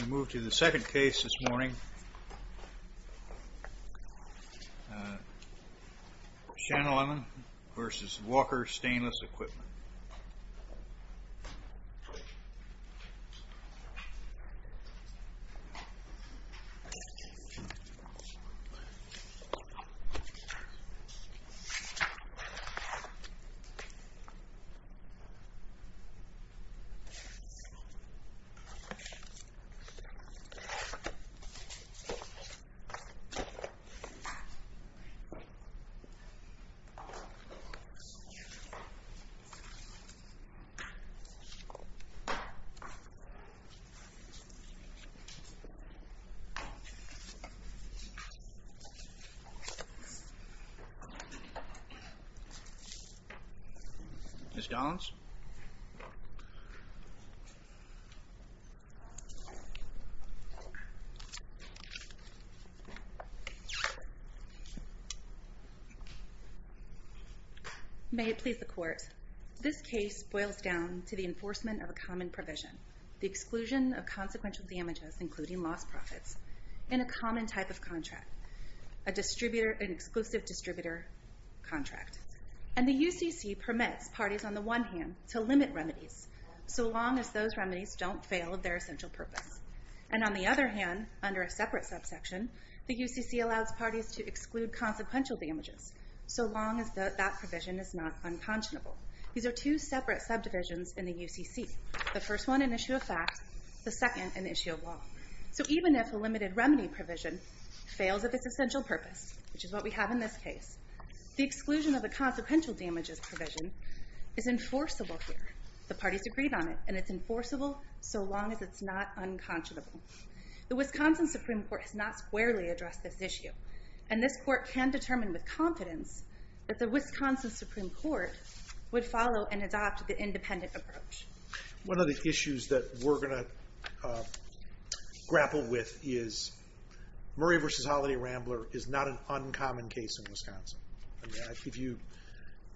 We move to the second case this morning, Sanchelima v. Walker Stainless Equipment. Ms. Gollins? May it please the Court, this case boils down to the enforcement of a common provision, the exclusion of consequential damages, including lost profits, in a common type of contract, an exclusive distributor contract. And the UCC permits parties on the one hand to limit remedies, so long as those remedies don't fail of their essential purpose. And on the other hand, under a separate subsection, the UCC allows parties to exclude consequential damages, so long as that provision is not unconscionable. These are two separate subdivisions in the UCC, the first one an issue of fact, the second an issue of law. So even if a limited remedy provision fails of its essential purpose, which is what we have in this case, the exclusion of a consequential damages provision is enforceable here. The parties agreed on it, and it's enforceable so long as it's not unconscionable. The Wisconsin Supreme Court has not squarely addressed this issue, and this Court can determine with confidence that the Wisconsin Supreme Court would follow and adopt the independent approach. One of the issues that we're going to grapple with is Murray v. Holliday-Rambler is not an uncommon case in Wisconsin. If you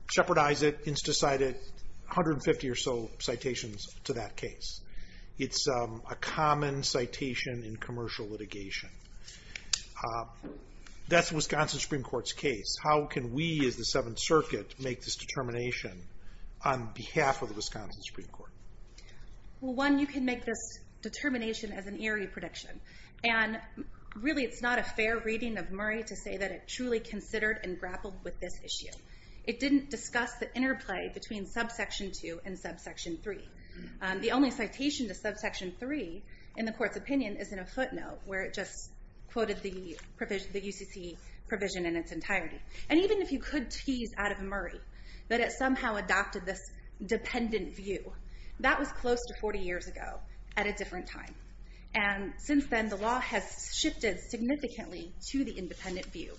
shepherdize it, instacite it, 150 or so citations to that case. It's a common citation in commercial litigation. That's the Wisconsin Supreme Court's case. How can we as the Seventh Circuit make this determination on behalf of the Wisconsin Supreme Court? Well, one, you can make this determination as an eerie prediction. And really, it's not a fair reading of Murray to say that it truly considered and grappled with this issue. It didn't discuss the interplay between subsection 2 and subsection 3. The only citation to subsection 3 in the Court's opinion is in a footnote where it just quoted the UCC provision in its entirety. And even if you could tease out of Murray that it somehow adopted this dependent view, that was close to 40 years ago at a different time. And since then, the law has shifted significantly to the independent view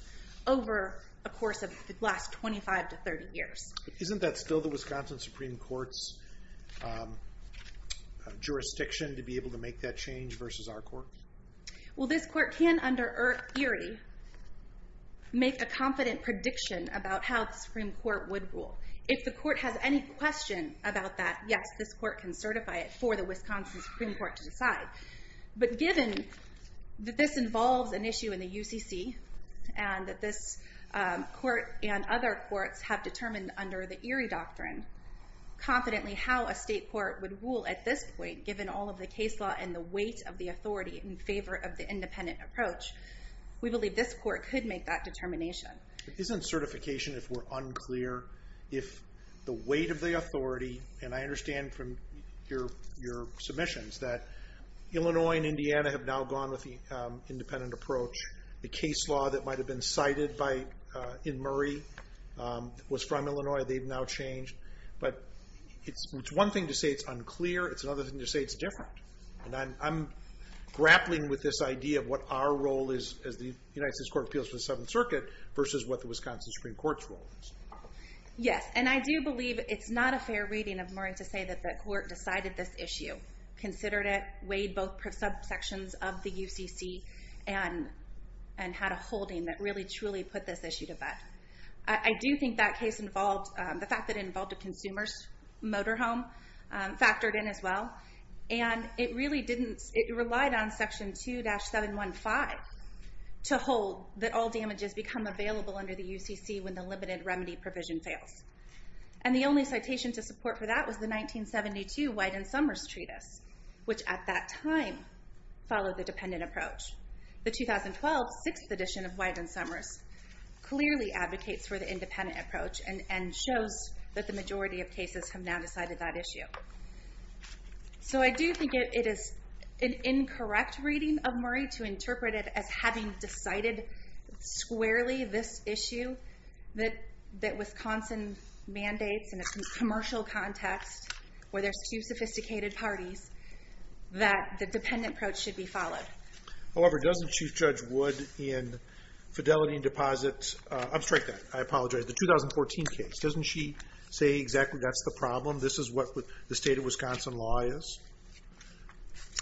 over a course of the last 25 to 30 years. Isn't that still the Wisconsin Supreme Court's jurisdiction to be able to make that change versus our court? Well, this court can, under eerie, make a confident prediction about how the Supreme Court would rule. If the court has any question about that, yes, this court can certify it for the Wisconsin Supreme Court to decide. But given that this involves an issue in the UCC, and that this court and other courts have determined under the eerie doctrine, confidently how a state court would rule at this point, given all of the case law and the weight of the authority in favor of the independent approach, we believe this court could make that determination. Isn't certification, if we're unclear, if the weight of the authority, and I understand from your submissions, that Illinois and Indiana have now gone with the independent approach. The case law that might have been cited in Murray was from Illinois. They've now changed. But it's one thing to say it's unclear. It's another thing to say it's different. And I'm grappling with this idea of what our role is as the United States Court of Appeals for the Seventh Circuit versus what the Wisconsin Supreme Court's role is. Yes, and I do believe it's not a fair reading of Murray to say that the court decided this issue, considered it, weighed both subsections of the UCC, and had a holding that really, truly put this issue to bed. I do think that case involved, the fact that it involved a consumer's motorhome factored in as well. And it really didn't, it relied on Section 2-715 to hold that all damages become available under the UCC when the limited remedy provision fails. And the only citation to support for that was the 1972 Wyden-Somers Treatise, which at that time followed the dependent approach. The 2012, sixth edition of Wyden-Somers clearly advocates for the independent approach and shows that the majority of cases have now decided that issue. So I do think it is an incorrect reading of Murray to interpret it as having decided squarely this issue that Wisconsin mandates in a commercial context, where there's two sophisticated parties, However, doesn't Chief Judge Wood in Fidelity and Deposit, I'm sorry, I apologize, the 2014 case, doesn't she say exactly that's the problem, this is what the state of Wisconsin law is?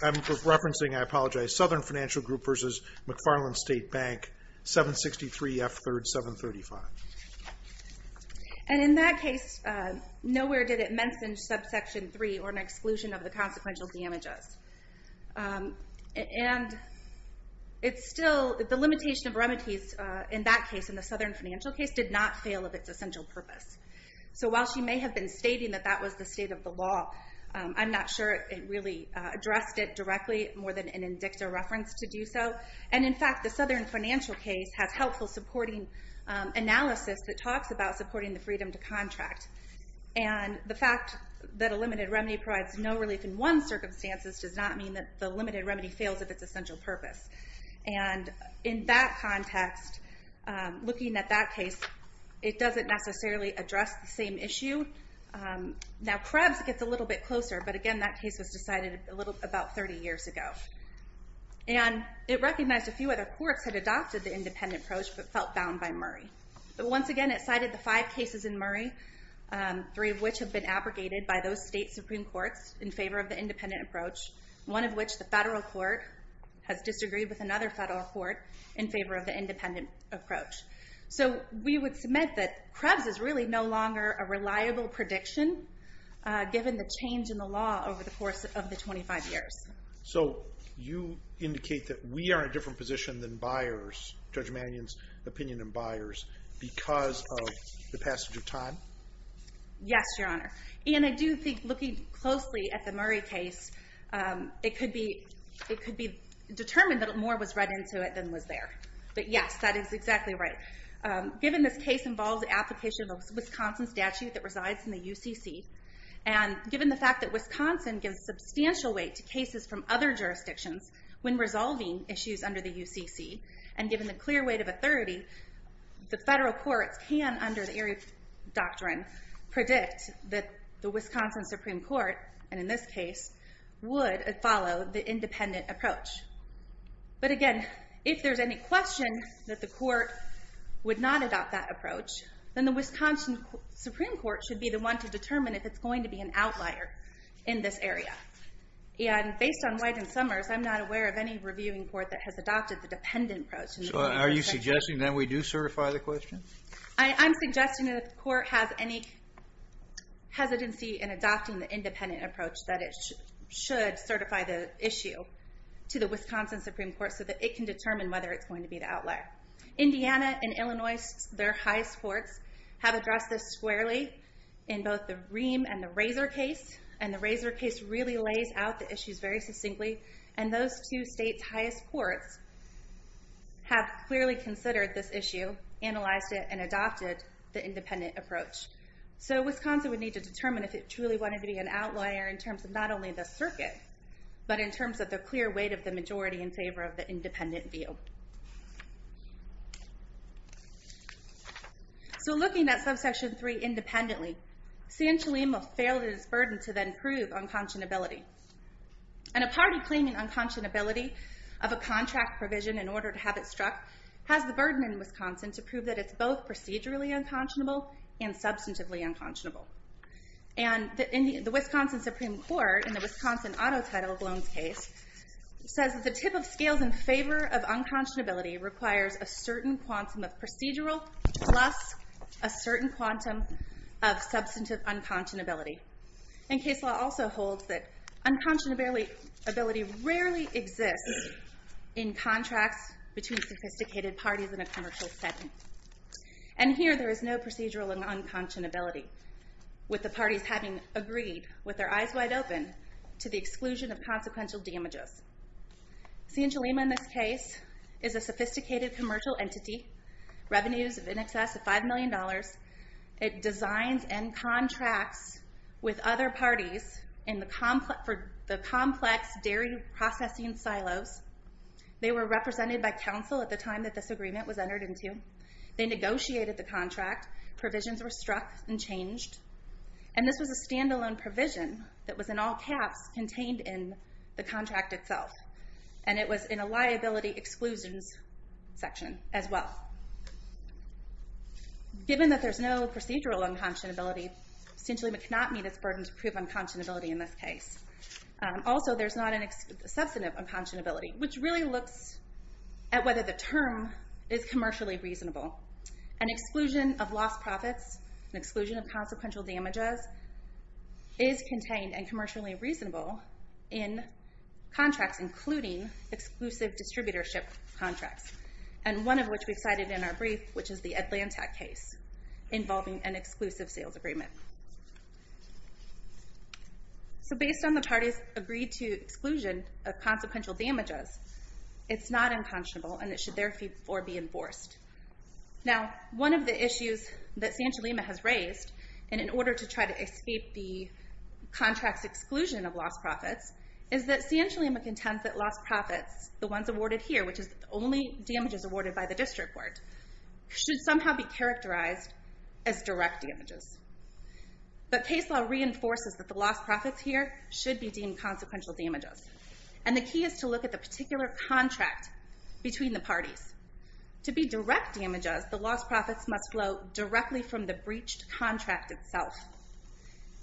I'm referencing, I apologize, Southern Financial Group versus McFarland State Bank, 763 F. 3rd, 735. And in that case, nowhere did it mention subsection 3 or an exclusion of the consequential damages. And it's still, the limitation of remedies in that case, in the Southern Financial case, did not fail of its essential purpose. So while she may have been stating that that was the state of the law, I'm not sure it really addressed it directly more than an indicta reference to do so. And in fact, the Southern Financial case has helpful supporting analysis that talks about supporting the freedom to contract. And the fact that a limited remedy provides no relief in one circumstances does not mean that the limited remedy fails of its essential purpose. And in that context, looking at that case, it doesn't necessarily address the same issue. Now Krebs gets a little bit closer, but again, that case was decided about 30 years ago. And it recognized a few other courts had adopted the independent approach, but felt bound by Murray. But once again, it cited the five cases in Murray, three of which have been abrogated by those state Supreme Courts in favor of the independent approach, one of which the federal court has disagreed with another federal court in favor of the independent approach. So we would submit that Krebs is really no longer a reliable prediction, given the change in the law over the course of the 25 years. So you indicate that we are in a different position than buyers, Judge Mannion's opinion in buyers, because of the passage of time? Yes, Your Honor. And I do think looking closely at the Murray case, it could be determined that more was read into it than was there. But yes, that is exactly right. Given this case involves the application of a Wisconsin statute that resides in the UCC, and given the fact that Wisconsin gives substantial weight to cases from other jurisdictions when resolving issues under the UCC, and given the clear weight of authority, the federal courts can, under the Erie Doctrine, predict that the Wisconsin Supreme Court, and in this case, would follow the independent approach. But again, if there's any question that the court would not adopt that approach, then the Wisconsin Supreme Court should be the one to determine if it's going to be an outlier in this area. And based on White and Summers, I'm not aware of any reviewing court that has adopted the dependent approach. So are you suggesting that we do certify the question? I'm suggesting that if the court has any hesitancy in adopting the independent approach, that it should certify the issue to the Wisconsin Supreme Court so that it can determine whether it's going to be the outlier. Indiana and Illinois, their highest courts, have addressed this squarely in both the Ream and the Razor case, and the Razor case really lays out the issues very succinctly, and those two states' highest courts have clearly considered this issue, analyzed it, and adopted the independent approach. So Wisconsin would need to determine if it truly wanted to be an outlier in terms of not only the circuit, but in terms of the clear weight of the majority in favor of the independent view. So looking at Subsection 3 independently, San Chalima failed in its burden to then prove unconscionability. And a party claiming unconscionability of a contract provision in order to have it struck has the burden in Wisconsin to prove that it's both procedurally unconscionable and substantively unconscionable. And the Wisconsin Supreme Court, in the Wisconsin Auto Title Loans case, says that the tip of scales in favor of unconscionability requires a certain quantum of procedural plus a certain quantum of substantive unconscionability. And case law also holds that unconscionability rarely exists in contracts between sophisticated parties in a commercial setting. And here there is no procedural unconscionability. With the parties having agreed, with their eyes wide open, to the exclusion of consequential damages. San Chalima, in this case, is a sophisticated commercial entity. Revenues in excess of $5 million. It designs and contracts with other parties in the complex dairy processing silos. They were represented by counsel at the time that this agreement was entered into. They negotiated the contract. Provisions were struck and changed. And this was a stand-alone provision that was in all caps contained in the contract itself. And it was in a liability exclusions section as well. Given that there's no procedural unconscionability, San Chalima cannot meet its burden to prove unconscionability in this case. Also, there's not a substantive unconscionability, which really looks at whether the term is commercially reasonable. An exclusion of lost profits, an exclusion of consequential damages, is contained and commercially reasonable in contracts, including exclusive distributorship contracts. And one of which we cited in our brief, which is the Atlanta case, involving an exclusive sales agreement. So based on the parties' agreed-to exclusion of consequential damages, it's not unconscionable and it should therefore be enforced. Now, one of the issues that San Chalima has raised, and in order to try to escape the contract's exclusion of lost profits, is that San Chalima contends that lost profits, the ones awarded here, which is the only damages awarded by the district court, should somehow be characterized as direct damages. But case law reinforces that the lost profits here should be deemed consequential damages. And the key is to look at the particular contract between the parties. To be direct damages, the lost profits must flow directly from the breached contract itself.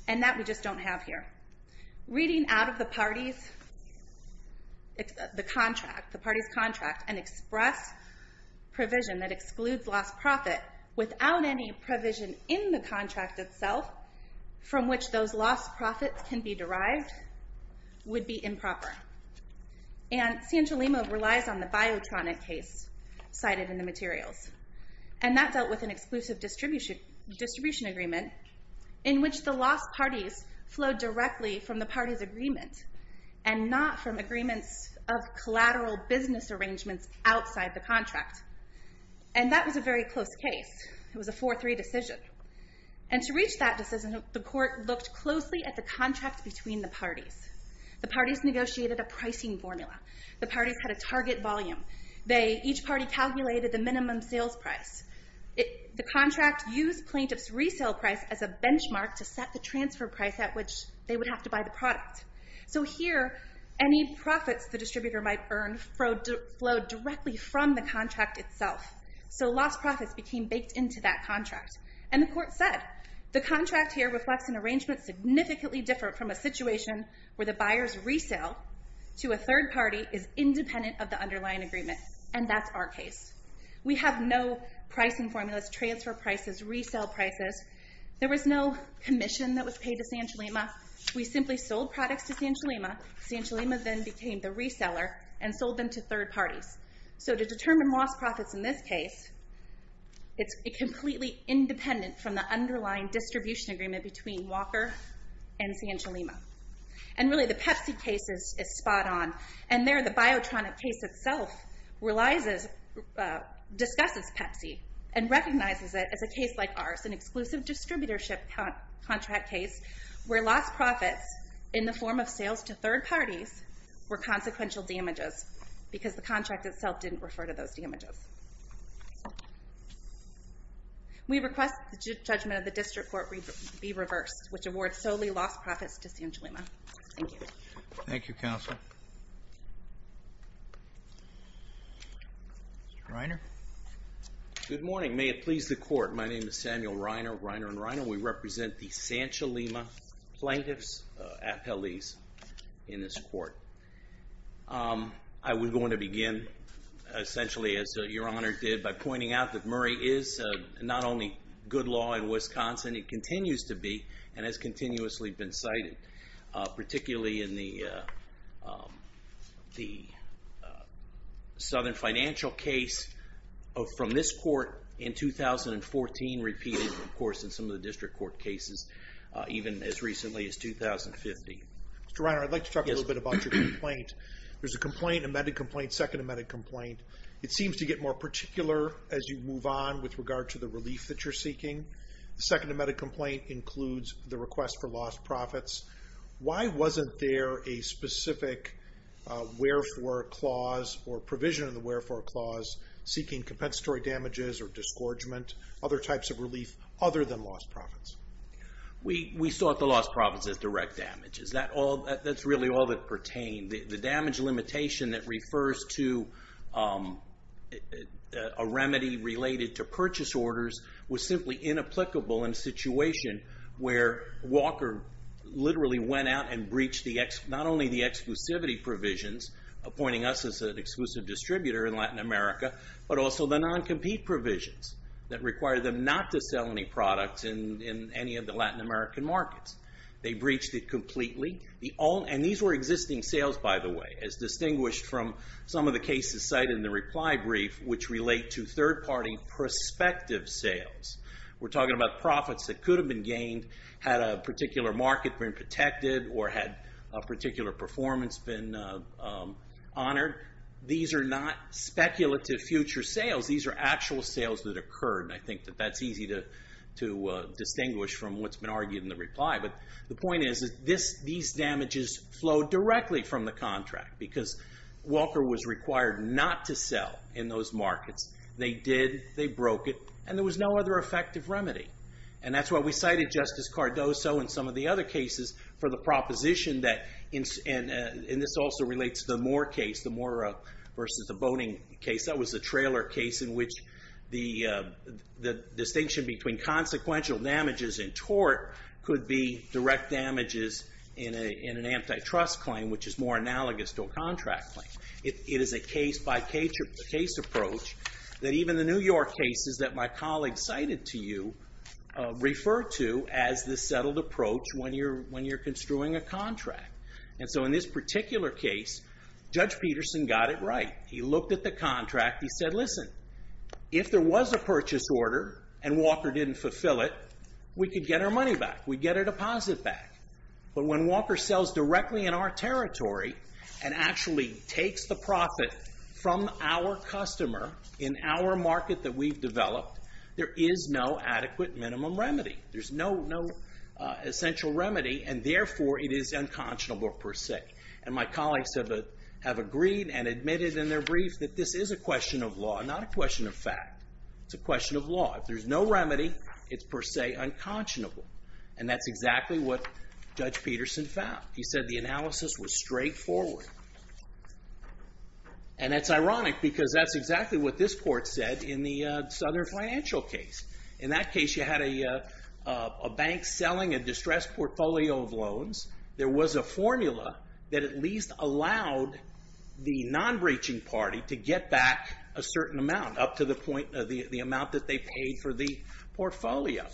And that we just don't have here. Reading out of the parties' contract, an express provision that excludes lost profit without any provision in the contract itself from which those lost profits can be derived, would be improper. And San Chalima relies on the Biotronic case cited in the materials. And that dealt with an exclusive distribution agreement in which the lost parties flowed directly from the parties' agreement and not from agreements of collateral business arrangements outside the contract. And that was a very close case. It was a 4-3 decision. And to reach that decision, the court looked closely at the contract between the parties. The parties negotiated a pricing formula. The parties had a target volume. Each party calculated the minimum sales price. The contract used plaintiff's resale price as a benchmark to set the transfer price at which they would have to buy the product. So here, any profits the distributor might earn flowed directly from the contract itself. So lost profits became baked into that contract. And the court said, the contract here reflects an arrangement significantly different from a situation where the buyer's resale to a third party is independent of the underlying agreement. And that's our case. We have no pricing formulas, transfer prices, resale prices. There was no commission that was paid to San Chalima. We simply sold products to San Chalima. San Chalima then became the reseller and sold them to third parties. So to determine lost profits in this case, it's completely independent from the underlying distribution agreement between Walker and San Chalima. And really, the Pepsi case is spot on. And there, the Biotronic case itself discusses Pepsi and recognizes it as a case like ours, an exclusive distributorship contract case where lost profits in the form of sales to third parties were consequential damages because the contract itself didn't refer to those damages. We request the judgment of the district court be reversed, which awards solely lost profits to San Chalima. Thank you. Thank you, counsel. Mr. Reiner? Good morning. May it please the court. My name is Samuel Reiner, Reiner and Reiner. We represent the San Chalima Plaintiffs' Appellees in this court. I was going to begin, essentially, as Your Honor did, by pointing out that Murray is not only good law in Wisconsin, it continues to be and has continuously been cited, particularly in the Southern Financial case from this court in 2014, repeated, of course, in some of the district court cases, even as recently as 2015. Mr. Reiner, I'd like to talk a little bit about your complaint. There's a complaint, amended complaint, second amended complaint. It seems to get more particular as you move on with regard to the relief that you're seeking. The second amended complaint includes the request for lost profits. Why wasn't there a specific wherefore clause or provision of the wherefore clause seeking compensatory damages or disgorgement, other types of relief other than lost profits? We sought the lost profits as direct damage. That's really all that pertained. The damage limitation that refers to a remedy related to purchase orders was simply inapplicable in a situation where Walker literally went out and breached not only the exclusivity provisions, appointing us as an exclusive distributor in Latin America, but also the non-compete provisions that require them not to sell any products in any of the Latin American markets. They breached it completely. And these were existing sales, by the way, as distinguished from some of the cases cited in the reply brief, which relate to third-party prospective sales. We're talking about profits that could have been gained, had a particular market been protected, or had a particular performance been honored. These are not speculative future sales. These are actual sales that occurred, and I think that that's easy to distinguish from what's been argued in the reply. But the point is that these damages flow directly from the contract because Walker was required not to sell in those markets. They did, they broke it, and there was no other effective remedy. And that's why we cited Justice Cardoso in some of the other cases for the proposition that, and this also relates to the Moore case, the Moore versus the Boning case. That was a trailer case in which the distinction between consequential damages in tort could be direct damages in an antitrust claim, which is more analogous to a contract claim. It is a case-by-case approach that even the New York cases that my colleague cited to you refer to as the settled approach when you're construing a contract. And so in this particular case, Judge Peterson got it right. He looked at the contract. He said, listen, if there was a purchase order and Walker didn't fulfill it, we could get our money back. We'd get our deposit back. But when Walker sells directly in our territory and actually takes the profit from our customer in our market that we've developed, there is no adequate minimum remedy. There's no essential remedy, and therefore it is unconscionable per se. And my colleagues have agreed and admitted in their brief that this is a question of law, not a question of fact. It's a question of law. If there's no remedy, it's per se unconscionable. And that's exactly what Judge Peterson found. He said the analysis was straightforward. And that's ironic because that's exactly what this court said in the Southern Financial case. In that case, you had a bank selling a distressed portfolio of loans. There was a formula that at least allowed the non-breaching party to get back a certain amount up to the amount that they paid for the portfolio.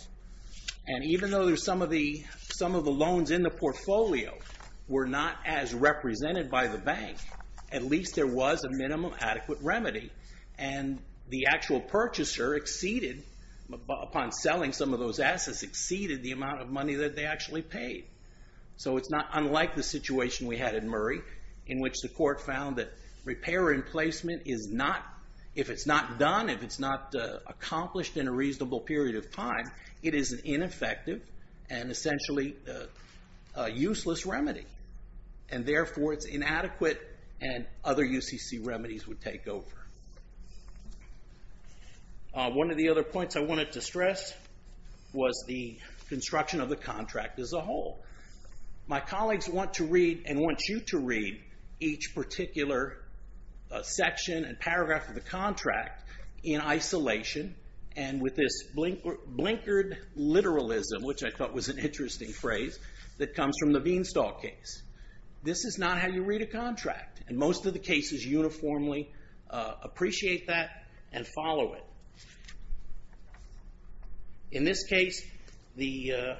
And even though some of the loans in the portfolio were not as represented by the bank, at least there was a minimum adequate remedy. And the actual purchaser exceeded, upon selling some of those assets, exceeded the amount of money that they actually paid. So it's not unlike the situation we had at Murray in which the court found that repair and placement is not, if it's not done, if it's not accomplished in a reasonable period of time, it is an ineffective and essentially useless remedy. And therefore it's inadequate and other UCC remedies would take over. One of the other points I wanted to stress was the construction of the contract as a whole. My colleagues want to read and want you to read each particular section and paragraph of the contract in isolation and with this blinkered literalism, which I thought was an interesting phrase, that comes from the Veenstal case. This is not how you read a contract. And most of the cases uniformly appreciate that and follow it. In this case, the...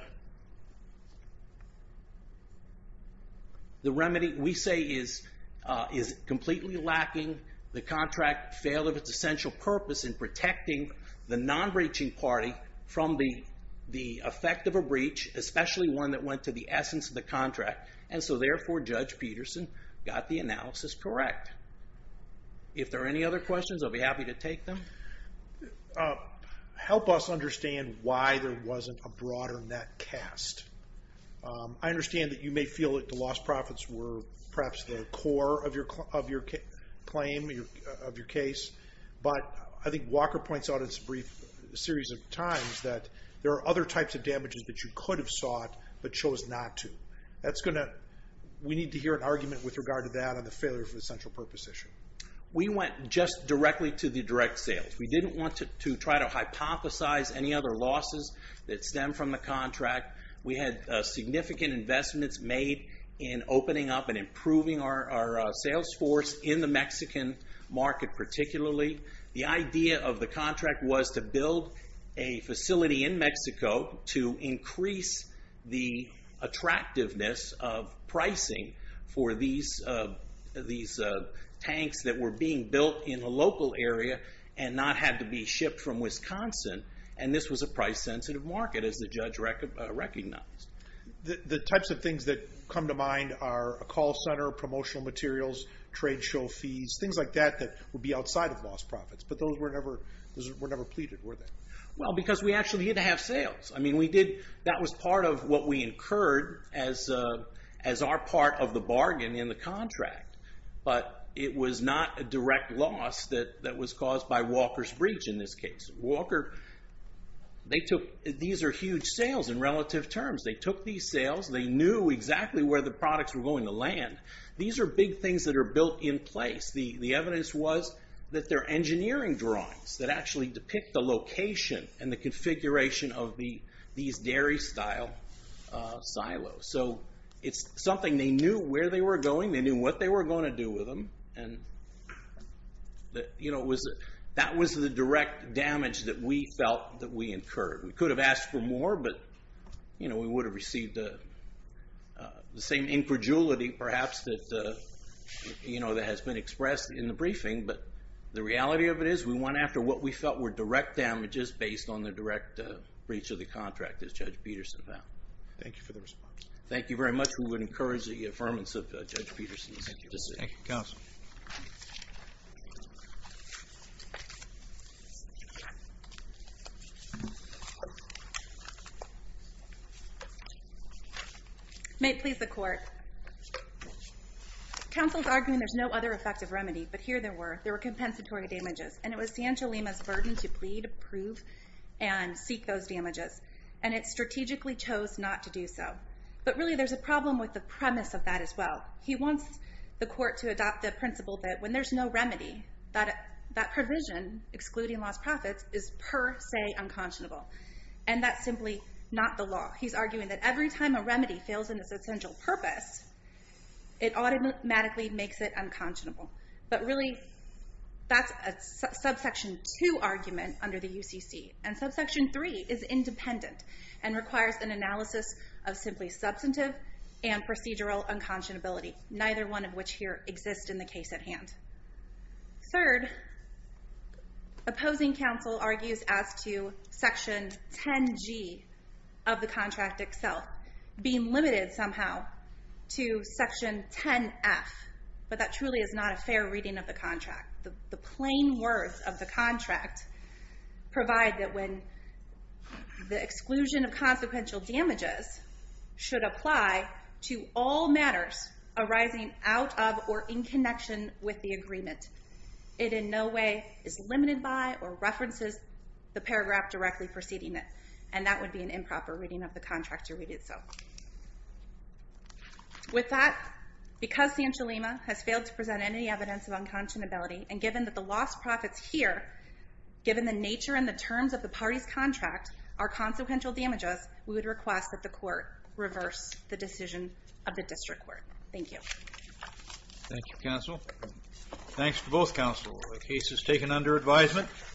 the remedy, we say, is completely lacking. The contract failed of its essential purpose in protecting the non-breaching party from the effect of a breach, especially one that went to the essence of the contract. And so therefore Judge Peterson got the analysis correct. If there are any other questions, I'll be happy to take them. Help us understand why there wasn't a broader net cast. I understand that you may feel that the lost profits were perhaps the core of your claim, of your case, but I think Walker points out in this brief series of times that there are other types of damages that you could have sought but chose not to. We need to hear an argument with regard to that and the failure of the essential purpose issue. We went just directly to the direct sales. We didn't want to try to hypothesize any other losses that stem from the contract. We had significant investments made in opening up and improving our sales force in the Mexican market particularly. The idea of the contract was to build a facility in Mexico to increase the attractiveness of pricing for these tanks that were being built in a local area and not had to be shipped from Wisconsin, and this was a price-sensitive market, as the judge recognized. The types of things that come to mind are a call center, promotional materials, trade show fees, things like that that would be outside of lost profits, but those were never pleaded, were they? Well, because we actually had to have sales. I mean, that was part of what we incurred as our part of the bargain in the contract, but it was not a direct loss that was caused by Walker's breach in this case. Walker, these are huge sales in relative terms. They took these sales. They knew exactly where the products were going to land. These are big things that are built in place. The evidence was that they're engineering drawings that actually depict the location and the configuration of these dairy-style silos, so it's something they knew where they were going. They knew what they were going to do with them, and that was the direct damage that we felt that we incurred. We could have asked for more, but we would have received the same incredulity, perhaps, that has been expressed in the briefing, but the reality of it is we went after what we felt were direct damages based on the direct breach of the contract, as Judge Peterson found. Thank you for the response. Thank you very much. We would encourage the affirmance of Judge Peterson's decision. Thank you, counsel. May it please the Court. Counsel is arguing there's no other effective remedy, but here there were. There were compensatory damages, and it was Sancho Lima's burden to plead, prove, and seek those damages, and it strategically chose not to do so. But really there's a problem with the premise of that as well. He wants the Court to adopt the principle that when there's no remedy, that provision, excluding lost profits, is per se unconscionable, and that's simply not the law. He's arguing that every time a remedy fails in its essential purpose, it automatically makes it unconscionable. But really that's a subsection 2 argument under the UCC, and subsection 3 is independent and requires an analysis of simply substantive and procedural unconscionability, neither one of which here exists in the case at hand. Third, opposing counsel argues as to section 10G of the contract itself being limited somehow to section 10F, but that truly is not a fair reading of the contract. The plain words of the contract provide that when the exclusion of consequential damages should apply to all matters arising out of or in connection with the agreement, it in no way is limited by or references the paragraph directly preceding it, and that would be an improper reading of the contract to read it so. With that, because Sancho Lima has failed to present any evidence of unconscionability, and given that the lost profits here, given the nature and the terms of the party's contract are consequential damages, we would request that the court reverse the decision of the district court. Thank you. Thank you, counsel. Thanks to both counsel. The case is taken under advisement.